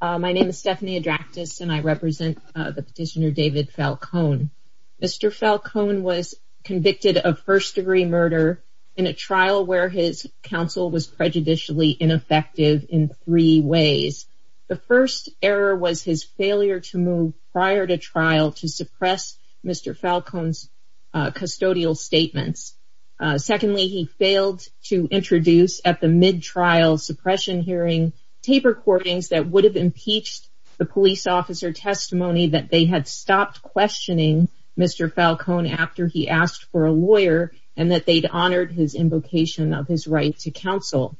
My name is Stephanie Adraktis and I represent the petitioner David Falcone. Mr. Falcone was convicted of first-degree murder in a trial where his counsel was prejudicially ineffective in three ways. The first error was his failure to move prior to trial to suppress Mr. Falcone's custodial statements. Secondly, he failed to introduce at the mid-trial suppression hearing tape recordings that would have impeached the police officer testimony that they had stopped questioning Mr. Falcone after he asked for a lawyer and that they'd honored his invocation of his right to counsel.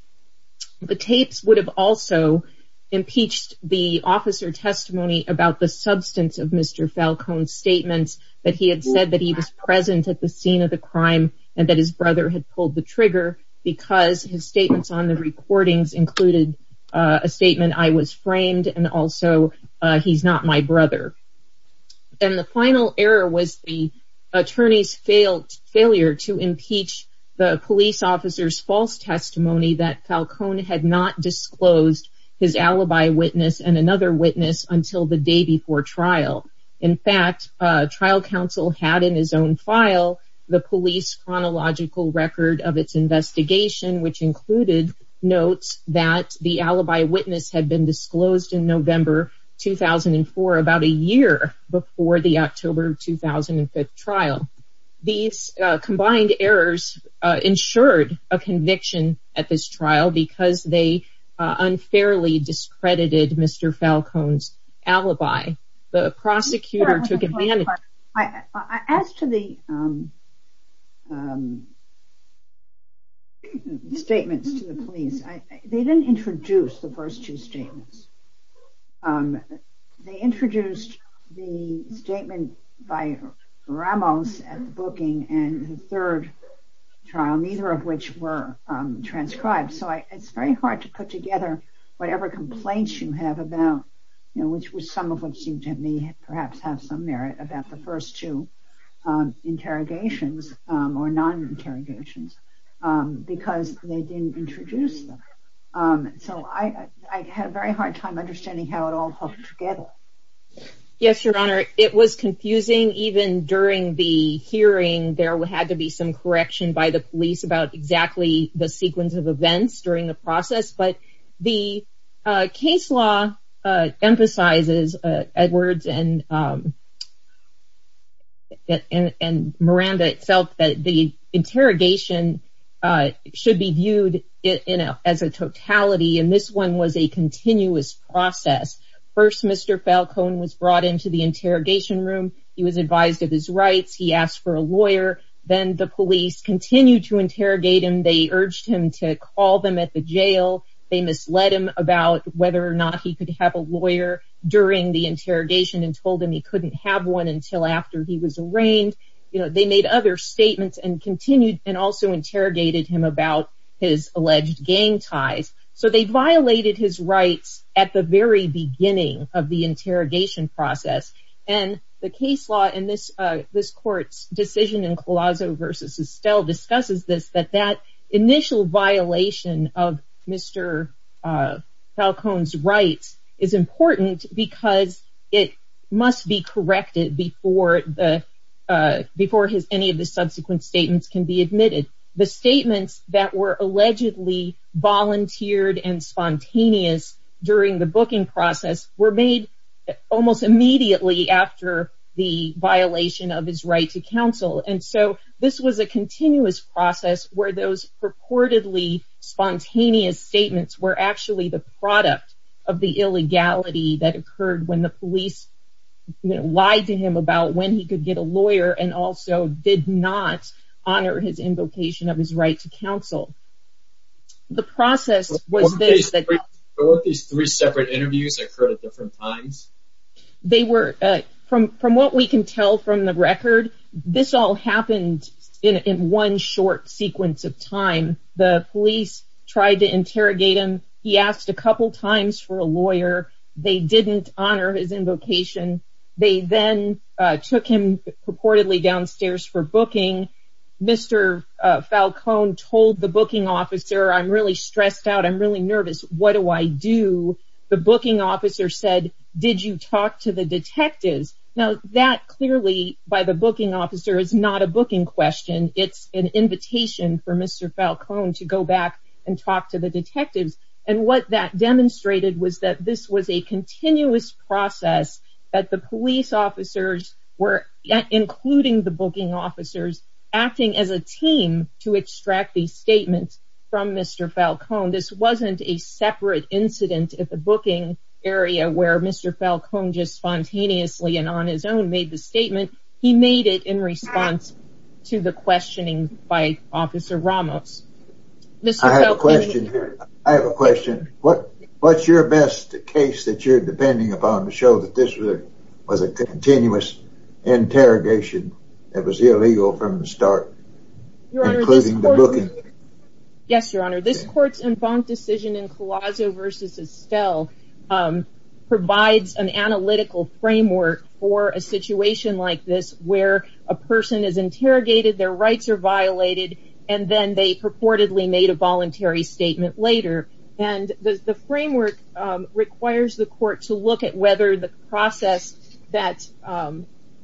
The tapes would have also impeached the officer testimony about the substance of Mr. Falcone's testimony, that he had said that he was present at the scene of the crime and that his brother had pulled the trigger because his statements on the recordings included a statement, I was framed, and also he's not my brother. And the final error was the attorney's failure to impeach the police officer's false testimony that Falcone had not disclosed his alibi witness and another witness until the day before trial. In fact, trial counsel had in his own file the police chronological record of its investigation which included notes that the alibi witness had been disclosed in November 2004, about a year before the October 2005 trial. These combined errors ensured a conviction at this trial because they unfairly discredited Mr. Falcone's alibi. The prosecutor took advantage... As to the statements to the police, they didn't introduce the first two statements. They introduced the statement by Ramos at the booking and the third trial, neither of which were transcribed, so it's very hard to put together whatever complaints you have about the first two interrogations or non-interrogations because they didn't introduce them. So, I had a very hard time understanding how it all hooked together. Yes, Your Honor, it was confusing even during the hearing, there had to be some correction by the police about exactly the sequence of events during the process, but the case law emphasizes, Edwards and Miranda itself, that the interrogation should be viewed as a totality and this one was a continuous process. First Mr. Falcone was brought into the interrogation room, he was advised of his rights, he asked for a lawyer, then the police continued to interrogate him, they urged him to call them at the jail, they misled him about whether or not he could have a lawyer during the interrogation and told him he couldn't have one until after he was arraigned, they made other statements and continued and also interrogated him about his alleged gang ties. So they violated his rights at the very beginning of the interrogation process and the case court's decision in Colosso v. Estelle discusses this, that that initial violation of Mr. Falcone's rights is important because it must be corrected before any of the subsequent statements can be admitted. The statements that were allegedly volunteered and spontaneous during the booking process were made almost immediately after the violation of his right to counsel and so this was a continuous process where those purportedly spontaneous statements were actually the product of the illegality that occurred when the police lied to him about when he could get a lawyer and also did not honor his invocation of his right to counsel. The process was this... Weren't these three separate interviews that occurred at different times? They were, from what we can tell from the record, this all happened in one short sequence of time. The police tried to interrogate him, he asked a couple times for a lawyer, they didn't honor his invocation, they then took him purportedly downstairs for booking, Mr. Falcone told the booking officer, I'm really stressed out, I'm really nervous, what do I do? The booking officer said, did you talk to the detectives? Now that clearly by the booking officer is not a booking question, it's an invitation for Mr. Falcone to go back and talk to the detectives and what that demonstrated was that this was a continuous process that the police officers were, including the booking officers, acting as a team to extract these statements from Mr. Falcone. This wasn't a separate incident at the booking area where Mr. Falcone just spontaneously and on his own made the statement, he made it in response to the questioning by Officer Ramos. I have a question here, I have a question, what's your best case that you're depending upon to show that this was a continuous interrogation that was illegal from the start, including the booking? Yes, your honor, this court's decision in Colosso v. Estelle provides an analytical framework for a situation like this where a person is interrogated, their rights are violated and then they purportedly made a voluntary statement later and the framework requires the court to look at whether the process that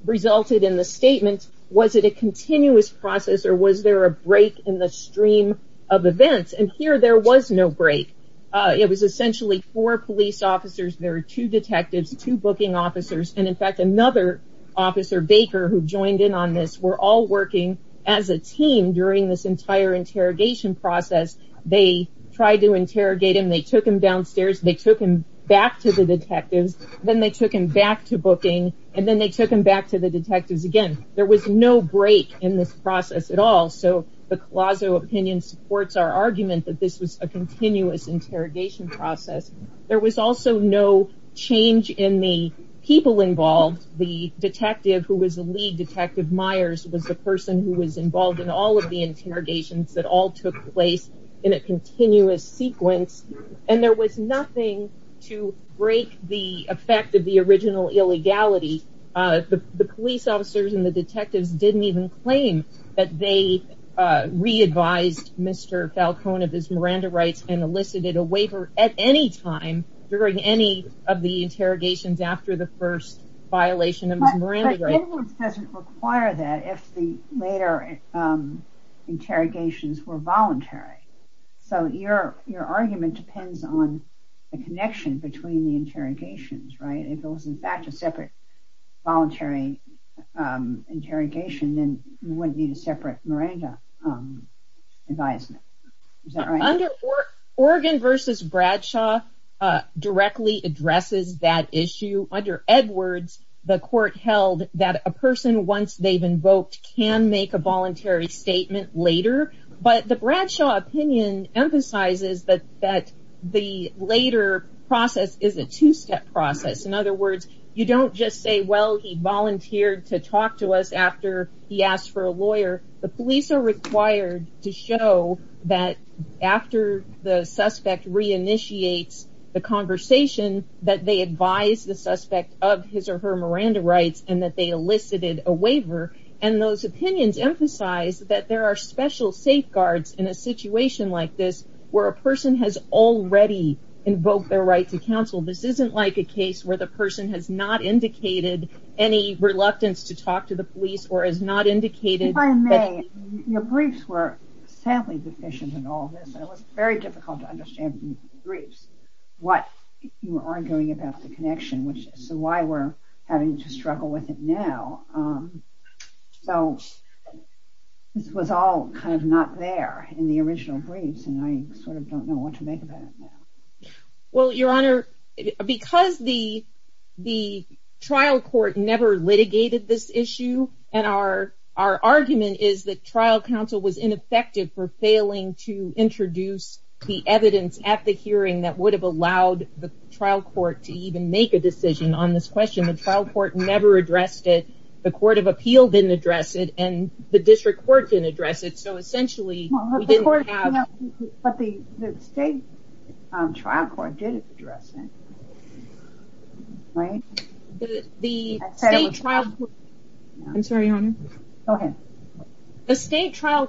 resulted in the statement, was it a continuous process or was there a break in the stream of events and here there was no break. It was essentially four police officers, there were two detectives, two booking officers and in fact another officer, Baker, who joined in on this, were all working as a team during this entire interrogation process. They tried to interrogate him, they took him downstairs, they took him back to the detectives, then they took him back to booking and then they took him back to the detectives again. There was no break in this process at all, so the Colosso opinion supports our argument that this was a continuous interrogation process. There was also no change in the people involved, the detective who was the lead, Detective that all took place in a continuous sequence and there was nothing to break the effect of the original illegality. The police officers and the detectives didn't even claim that they re-advised Mr. Falcone of his Miranda rights and elicited a waiver at any time during any of the interrogations after the first violation of his Miranda rights. Edwards doesn't require that if the later interrogations were voluntary, so your argument depends on the connection between the interrogations, right, if it was in fact a separate voluntary interrogation, then you wouldn't need a separate Miranda advisement, is that right? Oregon v. Bradshaw directly addresses that issue. Under Edwards, the court held that a person, once they've invoked, can make a voluntary statement later, but the Bradshaw opinion emphasizes that the later process is a two-step process. In other words, you don't just say, well, he volunteered to talk to us after he asked for a lawyer. The police are required to show that after the suspect re-initiates the conversation that they advised the suspect of his or her Miranda rights and that they elicited a waiver, and those opinions emphasize that there are special safeguards in a situation like this where a person has already invoked their right to counsel. This isn't like a case where the person has not indicated any reluctance to talk to the If I may, your briefs were sadly deficient in all of this, and it was very difficult to understand from the briefs what you were arguing about the connection, so why we're having to struggle with it now, so this was all kind of not there in the original briefs, and I sort of don't know what to make of that. Well, your honor, because the trial court never litigated this issue, and our argument is that trial counsel was ineffective for failing to introduce the evidence at the hearing that would have allowed the trial court to even make a decision on this question, the trial court never addressed it, the court of appeal didn't address it, and the district court didn't address it, so essentially, we didn't have... But the state trial court did address it, right? The state trial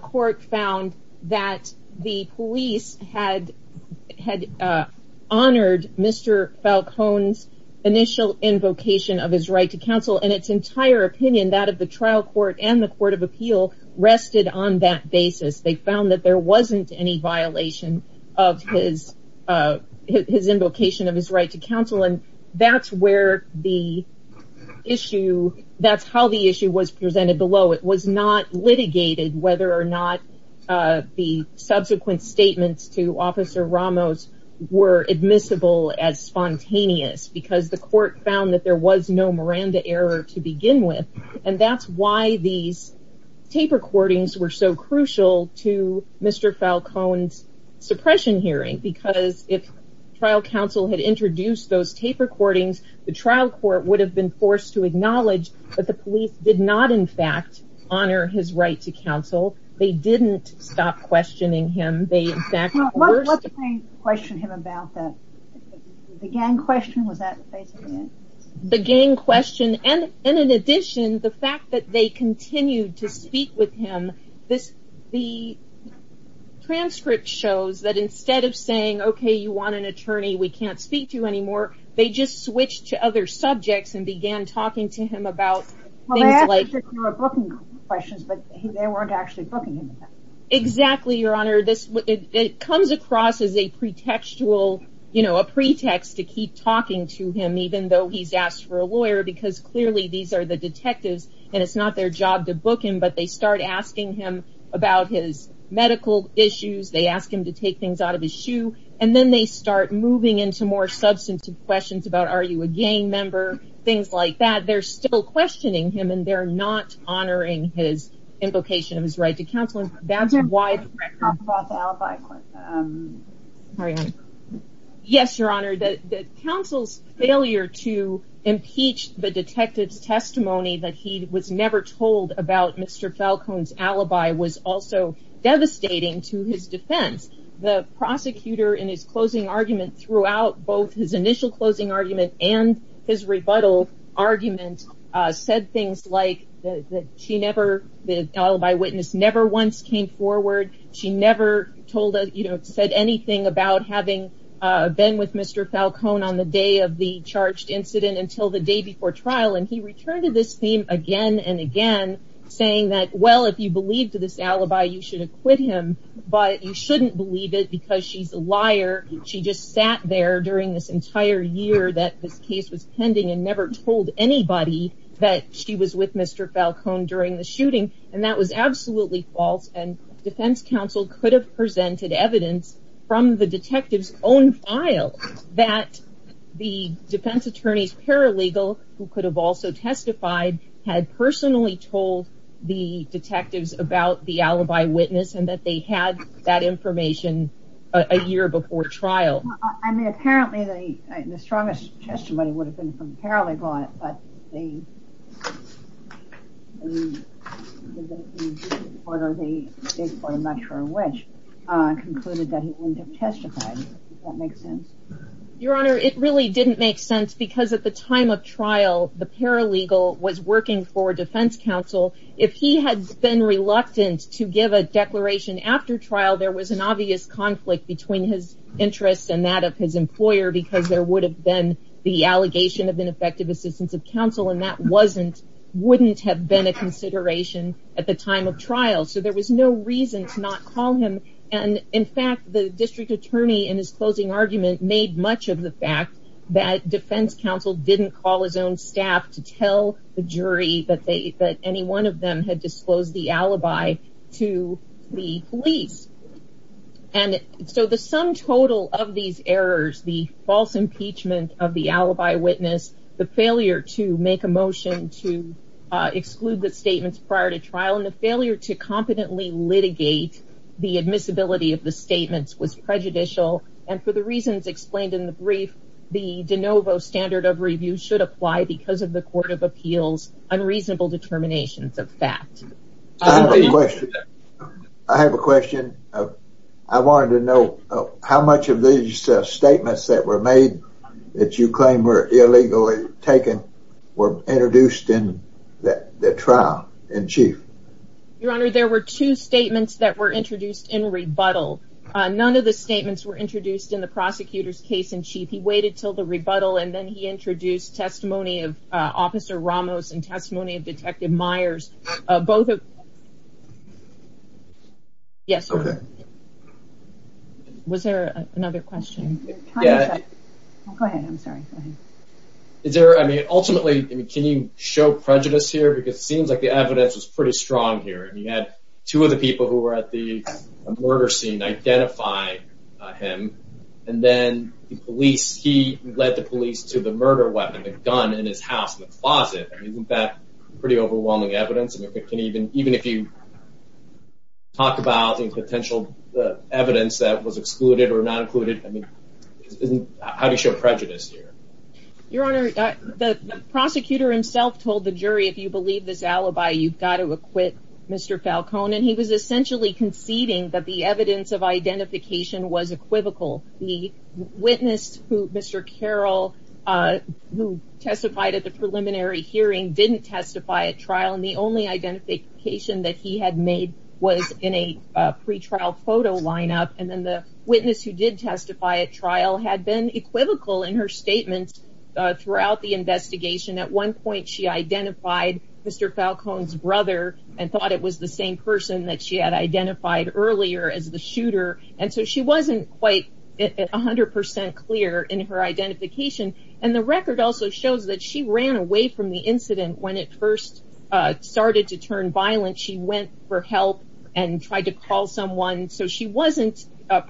court found that the police had honored Mr. Falcone's initial invocation of his right to counsel and its entire opinion, that of the trial court and the court of appeal rested on that basis, they found that there wasn't any violation of his invocation of his right to counsel, and that's where the issue... That's how the issue was presented below, it was not litigated whether or not the subsequent statements to Officer Ramos were admissible as spontaneous, because the court found that there was no Miranda error to begin with, and that's why these tape recordings were so crucial to Mr. Falcone's suppression hearing, because if trial counsel had introduced those tape recordings, the trial court would have been forced to acknowledge that the police did not, in fact, honor his right to counsel, they didn't stop questioning him, they in fact... What's the thing to question him about, the gang question, was that basically it? The gang question, and in addition, the fact that they continued to speak with him, the transcript shows that instead of saying, okay, you want an attorney we can't speak to anymore, they just switched to other subjects and began talking to him about things like... Well, they asked if there were booking questions, but they weren't actually booking him. Exactly, your honor, it comes across as a pretext to keep talking to him, even though he's asked for a lawyer, because clearly these are the detectives, and it's not their job to book him, but they start asking him about his medical issues, they ask him to take things out of his shoe, and then they start moving into more substantive questions about are you a gang member, things like that, they're still questioning him and they're not honoring his invocation of his right to counsel, and that's why... Can you talk about the alibi? Yes, your honor, the counsel's failure to impeach the detective's testimony that he was never told about Mr. Falcone's alibi was also devastating to his defense, the prosecutor in his closing argument throughout both his initial closing argument and his rebuttal argument said things like the alibi witness never once came forward, she never said anything about having been with Mr. Falcone on the day of the charged incident until the day before trial, and he returned to this theme again and again, saying that, well, if you believed this alibi, you should have quit him, but you shouldn't believe it because she's a liar, she just sat there during this entire year that this case was pending and never told anybody that she was with Mr. Falcone during the shooting, and that was absolutely false, and defense counsel could have presented evidence from the detective's own file that the defense attorney's paralegal, who could have also testified, had personally told the detectives about the alibi witness and that they had that information a year before trial. I mean, apparently the strongest testimony would have been from the paralegal on it, but the chief reporter, the chief reporter, I'm not sure which, concluded that he wouldn't have testified. Does that make sense? Your honor, it really didn't make sense because at the time of trial, the paralegal was working for defense counsel. If he had been reluctant to give a declaration after trial, there was an obvious conflict between his interests and that of his employer because there would have been the allegation of ineffective assistance of counsel, and that wouldn't have been a consideration at the time of trial, so there was no reason to not call him, and in fact, the district attorney in his closing argument made much of the fact that defense counsel didn't call his own staff to tell the jury that any one of them had disclosed the alibi to the police, and so the sum total of these errors, the false impeachment of the alibi witness, the failure to make a motion to exclude the statements prior to trial, and the failure to competently litigate the admissibility of the statements was prejudicial, and for the reasons explained in the brief, the de novo standard of review should apply because of the court of appeals unreasonable determinations of fact. I have a question. I have a question. I wanted to know how much of these statements that were made that you claim were illegally taken were introduced in that trial in chief? Your Honor, there were two statements that were introduced in rebuttal. None of the statements were introduced in the prosecutor's case in chief. He waited until the rebuttal, and then he introduced testimony of Officer Ramos and testimony of Detective Myers. Both of them. Yes. Okay. Was there another question? Go ahead. I'm sorry. Ultimately, can you show prejudice here? It seems like the evidence was pretty strong here. You had two of the people who were at the murder scene identify him, and then he led the police to the murder weapon, the gun, in his house, in the closet. Isn't that pretty overwhelming evidence? Even if you talk about the potential evidence that was excluded or not included, how do you show prejudice here? Your Honor, the prosecutor himself told the jury, if you believe this alibi, you've got to acquit Mr. Falcone, and he was essentially conceding that the evidence of identification was equivocal. The witness, Mr. Carroll, who testified at the preliminary hearing, didn't testify at trial, and the only identification that he had made was in a pretrial photo lineup. And then the witness who did testify at trial had been equivocal in her statements throughout the investigation. At one point, she identified Mr. Falcone's brother and thought it was the same person that she had identified earlier as the shooter. So she wasn't quite 100% clear in her identification. And the record also shows that she ran away from the incident when it first started to turn violent. She went for help and tried to call someone. So she wasn't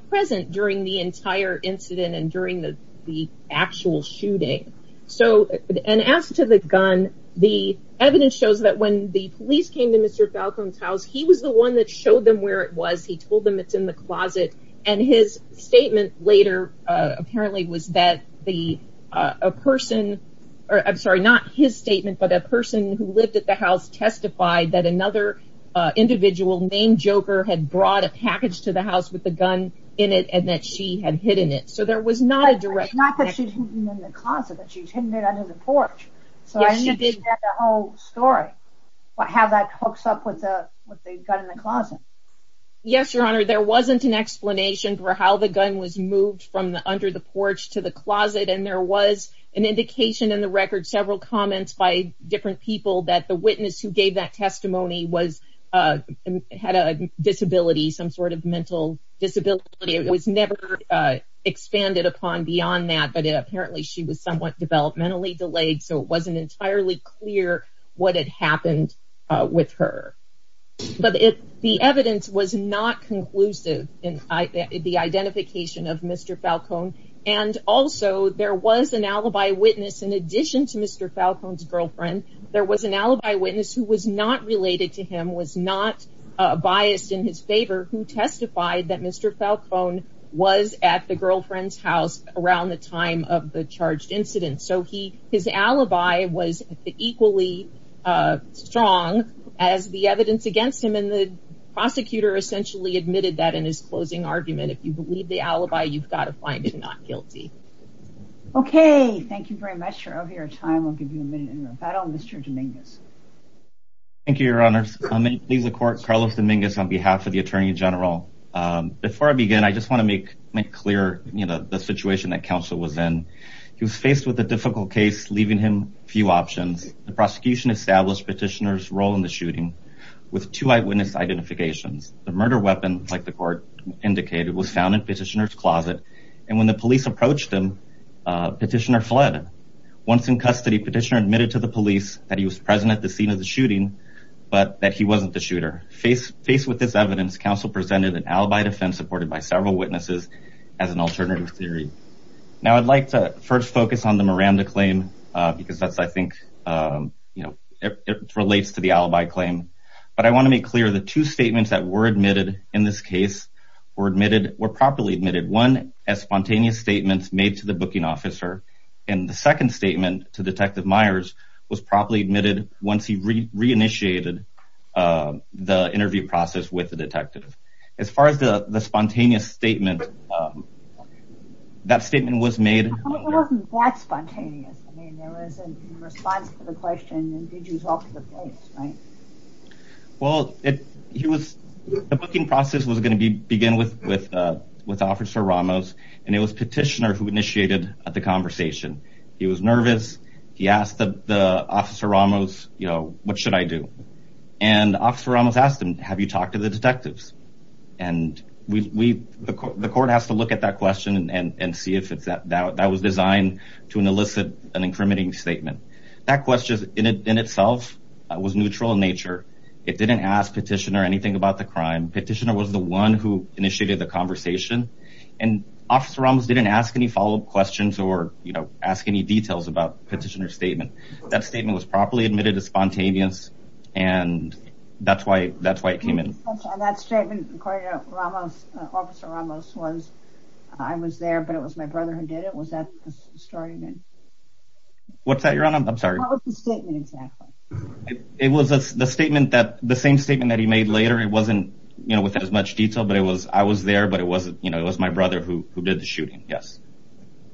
present during the entire incident and during the actual shooting. And as to the gun, the evidence shows that when the police came to Mr. Falcone's house, he was the one that showed them where it was. He told them it's in the closet. And his statement later apparently was that a person, I'm sorry, not his statement, but a person who lived at the house testified that another individual named Joker had brought a package to the house with a gun in it and that she had hidden it. So there was not a direct connection. It's not that she's hidden it in the closet. She's hidden it under the porch. So I understand the whole story, how that hooks up with the gun in the closet. Yes, Your Honor, there wasn't an explanation for how the gun was moved from under the porch to the closet. And there was an indication in the record, several comments by different people, that the witness who gave that testimony had a disability, some sort of mental disability. It was never expanded upon beyond that. But apparently she was somewhat developmentally delayed. So it wasn't entirely clear what had happened with her. But the evidence was not conclusive in the identification of Mr. Falcone. And also there was an alibi witness in addition to Mr. Falcone's girlfriend. There was an alibi witness who was not related to him, was not biased in his favor, who testified that Mr. Falcone was at the girlfriend's house around the time of the charged incident. So his alibi was equally strong as the evidence against him. And the prosecutor essentially admitted that in his closing argument. If you believe the alibi, you've got to find him not guilty. Okay, thank you very much for your time. I'll give you a minute in rebuttal. Mr. Dominguez. Thank you, Your Honor. I'm going to leave the court. Carlos Dominguez on behalf of the Attorney General. Before I begin, I just want to make clear the situation that counsel was in. He was faced with a difficult case, leaving him few options. The prosecution established Petitioner's role in the shooting with two eyewitness identifications. The murder weapon, like the court indicated, was found in Petitioner's closet. And when the police approached him, Petitioner fled. Once in custody, Petitioner admitted to the police that he was present at the scene of the shooting, but that he wasn't the shooter. Faced with this evidence, counsel presented an alibi defense supported by several witnesses as an alternative theory. Now, I'd like to first focus on the Miranda claim, because that's, I think, you know, it relates to the alibi claim. But I want to make clear the two statements that were admitted in this case were properly admitted. One, as spontaneous statements made to the booking officer. And the second statement to Detective Myers was properly admitted once he re-initiated the interview process with the detective. As far as the spontaneous statement, that statement was made... How come it wasn't that spontaneous? I mean, there was a response to the question, did you talk to the police, right? Well, the booking process was going to begin with Officer Ramos, and it was Petitioner who initiated the conversation. He was nervous, he asked Officer Ramos, you know, what should I do? And Officer Ramos asked him, have you talked to the detectives? And we... The court has to look at that question and see if that was designed to elicit an incriminating statement. That question, in itself, was neutral in nature. It didn't ask Petitioner anything about the crime. Petitioner was the one who initiated the conversation. And Officer Ramos didn't ask any follow-up questions or, you know, ask any details about Petitioner's statement. That statement was properly admitted as spontaneous and that's why it came in. On that statement, according to Officer Ramos, I was there, but it was my brother who did it? Was that the story you mean? What's that, Your Honor? I'm sorry. What was the statement exactly? It was the same statement that he made later. It wasn't, you know, with as much detail, but it was, I was there, but it was, you know, it was my brother who did the shooting, yes.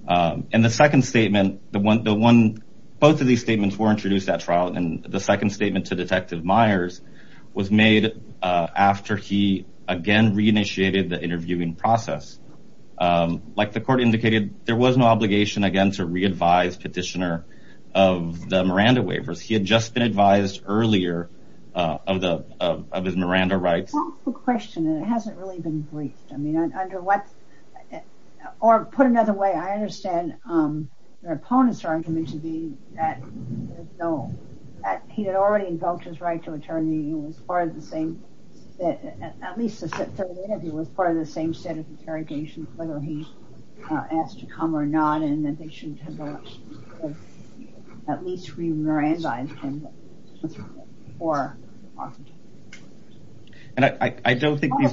And the second statement, both of these statements were introduced at trial and the second statement to Detective Myers was made after he, again, re-initiated the interviewing process. Like the court indicated, there was no obligation, again, to re-advise Petitioner of the Miranda Waivers. He had just been advised earlier of his Miranda rights. That's the question and it hasn't really been briefed. I mean, under what, or put another way, I understand your opponent's argument to be that, no, he had already invoked his right to attorney and was part of the same, at least the third interview, was part of the same set of interrogations whether he asked to come or not and that they should have at least re-Miranda-ized him before. And I don't think... I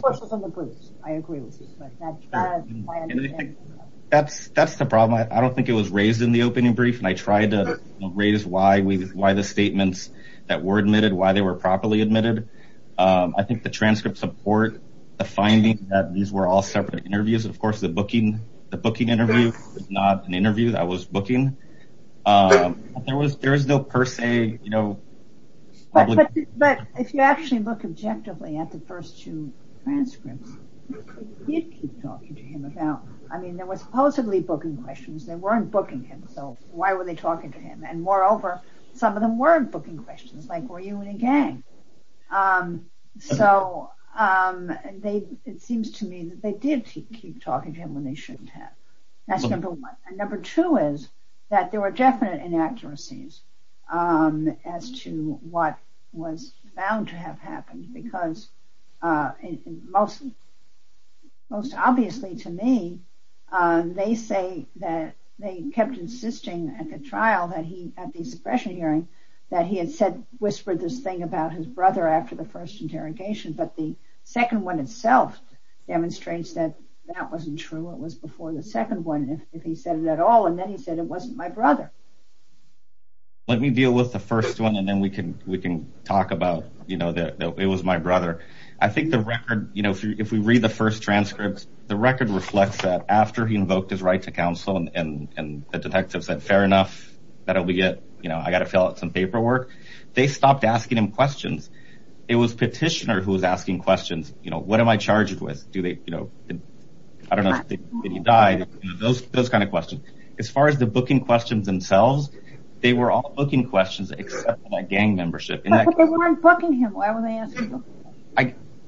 agree with you. That's the problem. I don't think it was raised in the opening brief and I tried to raise why the statements that were admitted, why they were properly admitted. I think the transcripts support the finding that these were all separate interviews. Of course, the booking interview was not an interview that was booking. There was no per se... But if you actually look objectively at the first two transcripts, you'd keep talking to him about... I mean, there were supposedly booking questions. They weren't booking him, so why were they talking to him? And moreover, some of them weren't booking questions like, were you in a gang? So, it seems to me that they did keep talking to him when they shouldn't have. That's number one. And number two is that there were definite inaccuracies as to what was found to have happened because most obviously to me, they say that they kept insisting at the trial, at the suppression hearing, that he had whispered this thing about his brother after the first interrogation, but the second one itself demonstrates that that wasn't true. It was before the second one, if he said it at all. And then he said, it wasn't my brother. Let me deal with the first one and then we can talk about that it was my brother. I think the record, if we read the first transcripts, the record reflects that after he invoked his right to counsel and the detective said fair enough, that'll be it. I gotta fill out some paperwork. They stopped asking him questions. It was petitioner who was asking questions. What am I charged with? I don't know if he died. Those kind of questions. As far as the booking questions themselves, they were all booking questions except for that gang membership. But they weren't booking him.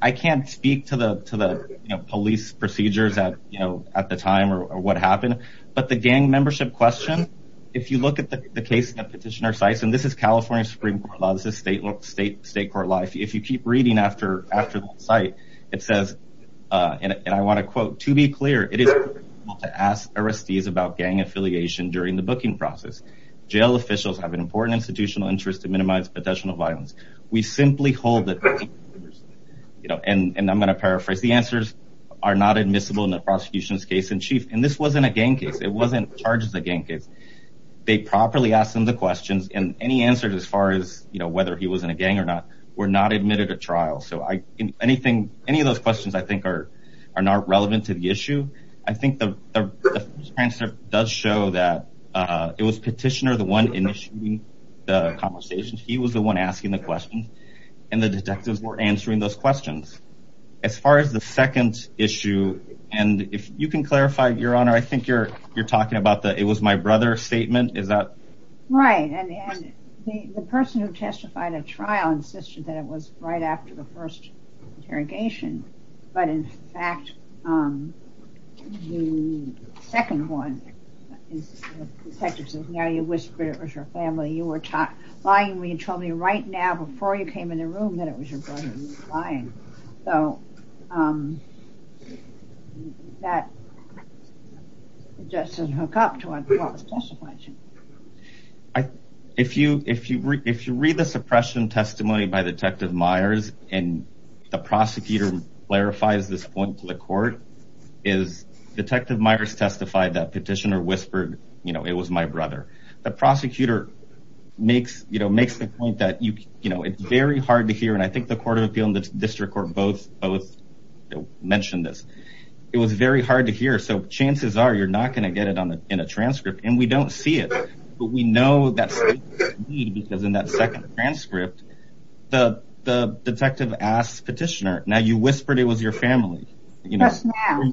I can't speak to the police procedures at the time or what happened, but the gang membership question, if you look at the case in the petitioner's site, and this is California Supreme Court law, this is state court law, if you keep reading after that site, it says and I want to quote, to be clear it is critical to ask arrestees about gang affiliation during the booking process. Jail officials have an important institutional interest to minimize potential violence. We simply hold that and I'm gonna paraphrase, the answers are not admissible in the prosecution's case in chief. And this wasn't a gang case. It wasn't charged as a gang case. They properly asked him the questions and any answers as far as whether he was in a gang or not were not admitted at trial. Any of those questions I think are not relevant to the issue. I think the first answer does show that it was the conversation. He was the one asking the question and the detectives were answering those questions. As far as the second issue and if you can clarify, your honor I think you're talking about the it was my brother statement. Right, and the person who testified at trial insisted that it was right after the first interrogation, but in fact the second one the detective says now you whispered it was your family. You were lying when you told me right now before you came in the room that it was your brother and you were lying. So that doesn't hook up to what was testified to. If you read the suppression testimony by Detective Myers and the prosecutor clarifies this point to the court, is Detective Myers testified that petitioner whispered it was my brother. The prosecutor makes the point that it's very hard to hear and I think the court of appeal and the district court both mentioned this. It was very hard to hear so chances are you're not going to get it in a transcript and we don't see it, but we know that's because in that second transcript the detective asked petitioner now you whispered it was your family. Just now.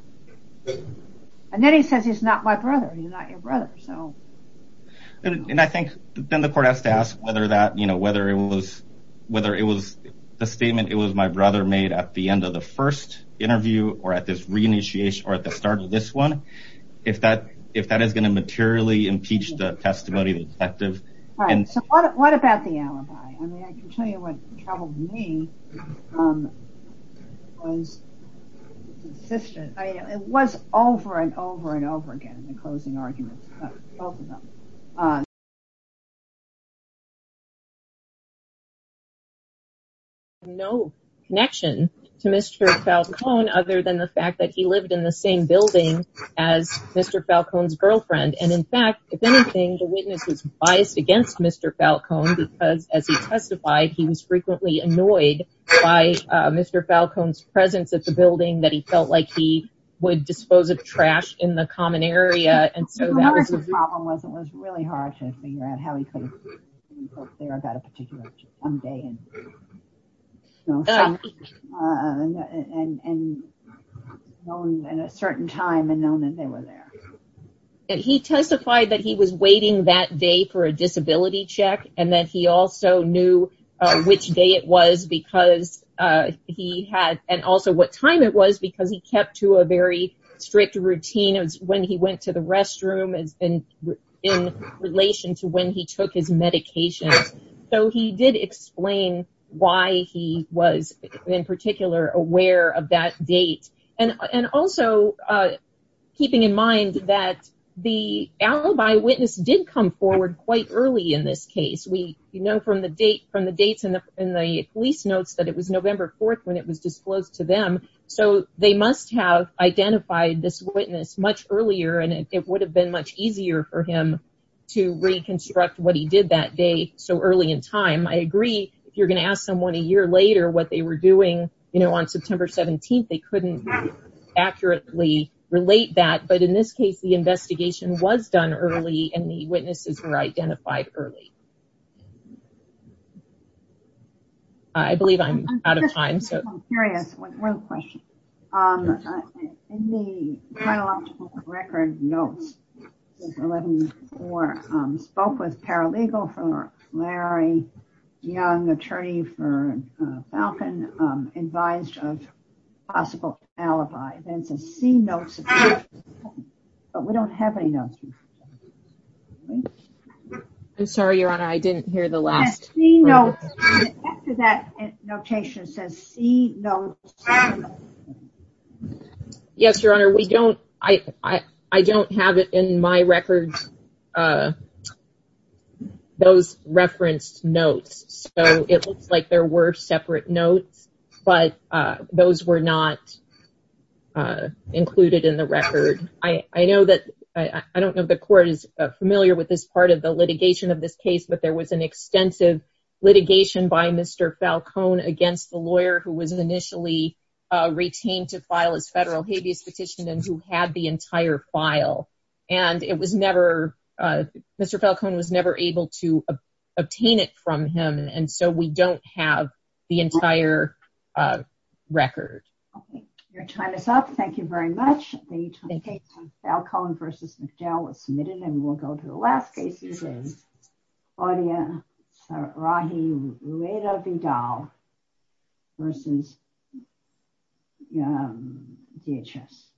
And then he says he's not my brother. He's not your brother. And I think then the court has to ask whether it was the statement it was my brother made at the end of the first interview or at the start of this one if that is going to materially impeach the testimony of the detective. What about the alibi? I can tell you what troubled me was his insistence it was over and over and over again in the closing arguments both of them. No connection to Mr. Falcone other than the fact that he lived in the same building as Mr. Falcone's girlfriend and in fact if anything the witness was biased against Mr. Falcone because as he testified he was frequently annoyed by Mr. Falcone's presence at the building that he felt like he would dispose of trash in the common area and so that was a problem it was really hard to figure out how he could go up there about a particular one day and and known at a certain time and known that they were there. He testified that he was waiting that day for a disability check and that he also knew which day it was because he had and also what time it was because he kept to a very strict routine when he went to the restroom in relation to when he took his medication so he did explain why he was in particular aware of that date and also keeping in mind that the alibi witness did come forward quite early in this case we know from the dates and the police notes that it was November 4th when it was disclosed to them so they must have identified this witness much earlier and it would have been much easier for him to reconstruct what he did that day so early in time I agree if you're going to ask someone a year later what they were doing on September 17th they couldn't accurately relate that but in this case the investigation was done early and the witnesses were identified early I believe I'm out of time I'm curious one more question in the final optical record notes 11-4 spoke with paralegal for Larry Young, attorney for Falcon, advised of possible alibi then to see notes but we don't have any notes I'm sorry your honor I didn't hear the last after that notation it says see notes yes your honor we don't I don't have it in my record those referenced notes so it looks like there were separate notes but those were not included in the record I don't know if the court is familiar with this part of the litigation of this case but there was an extensive litigation by Mr. Falcon against the lawyer who was initially retained to file his federal habeas petition and who had the entire file and it was never Mr. Falcon was never able to obtain it from him and so we don't have the entire record your time is up thank you very much Falcon v. McDowell was submitted and we'll go to the last case Audia Rahi Rueda Vidal v. DHS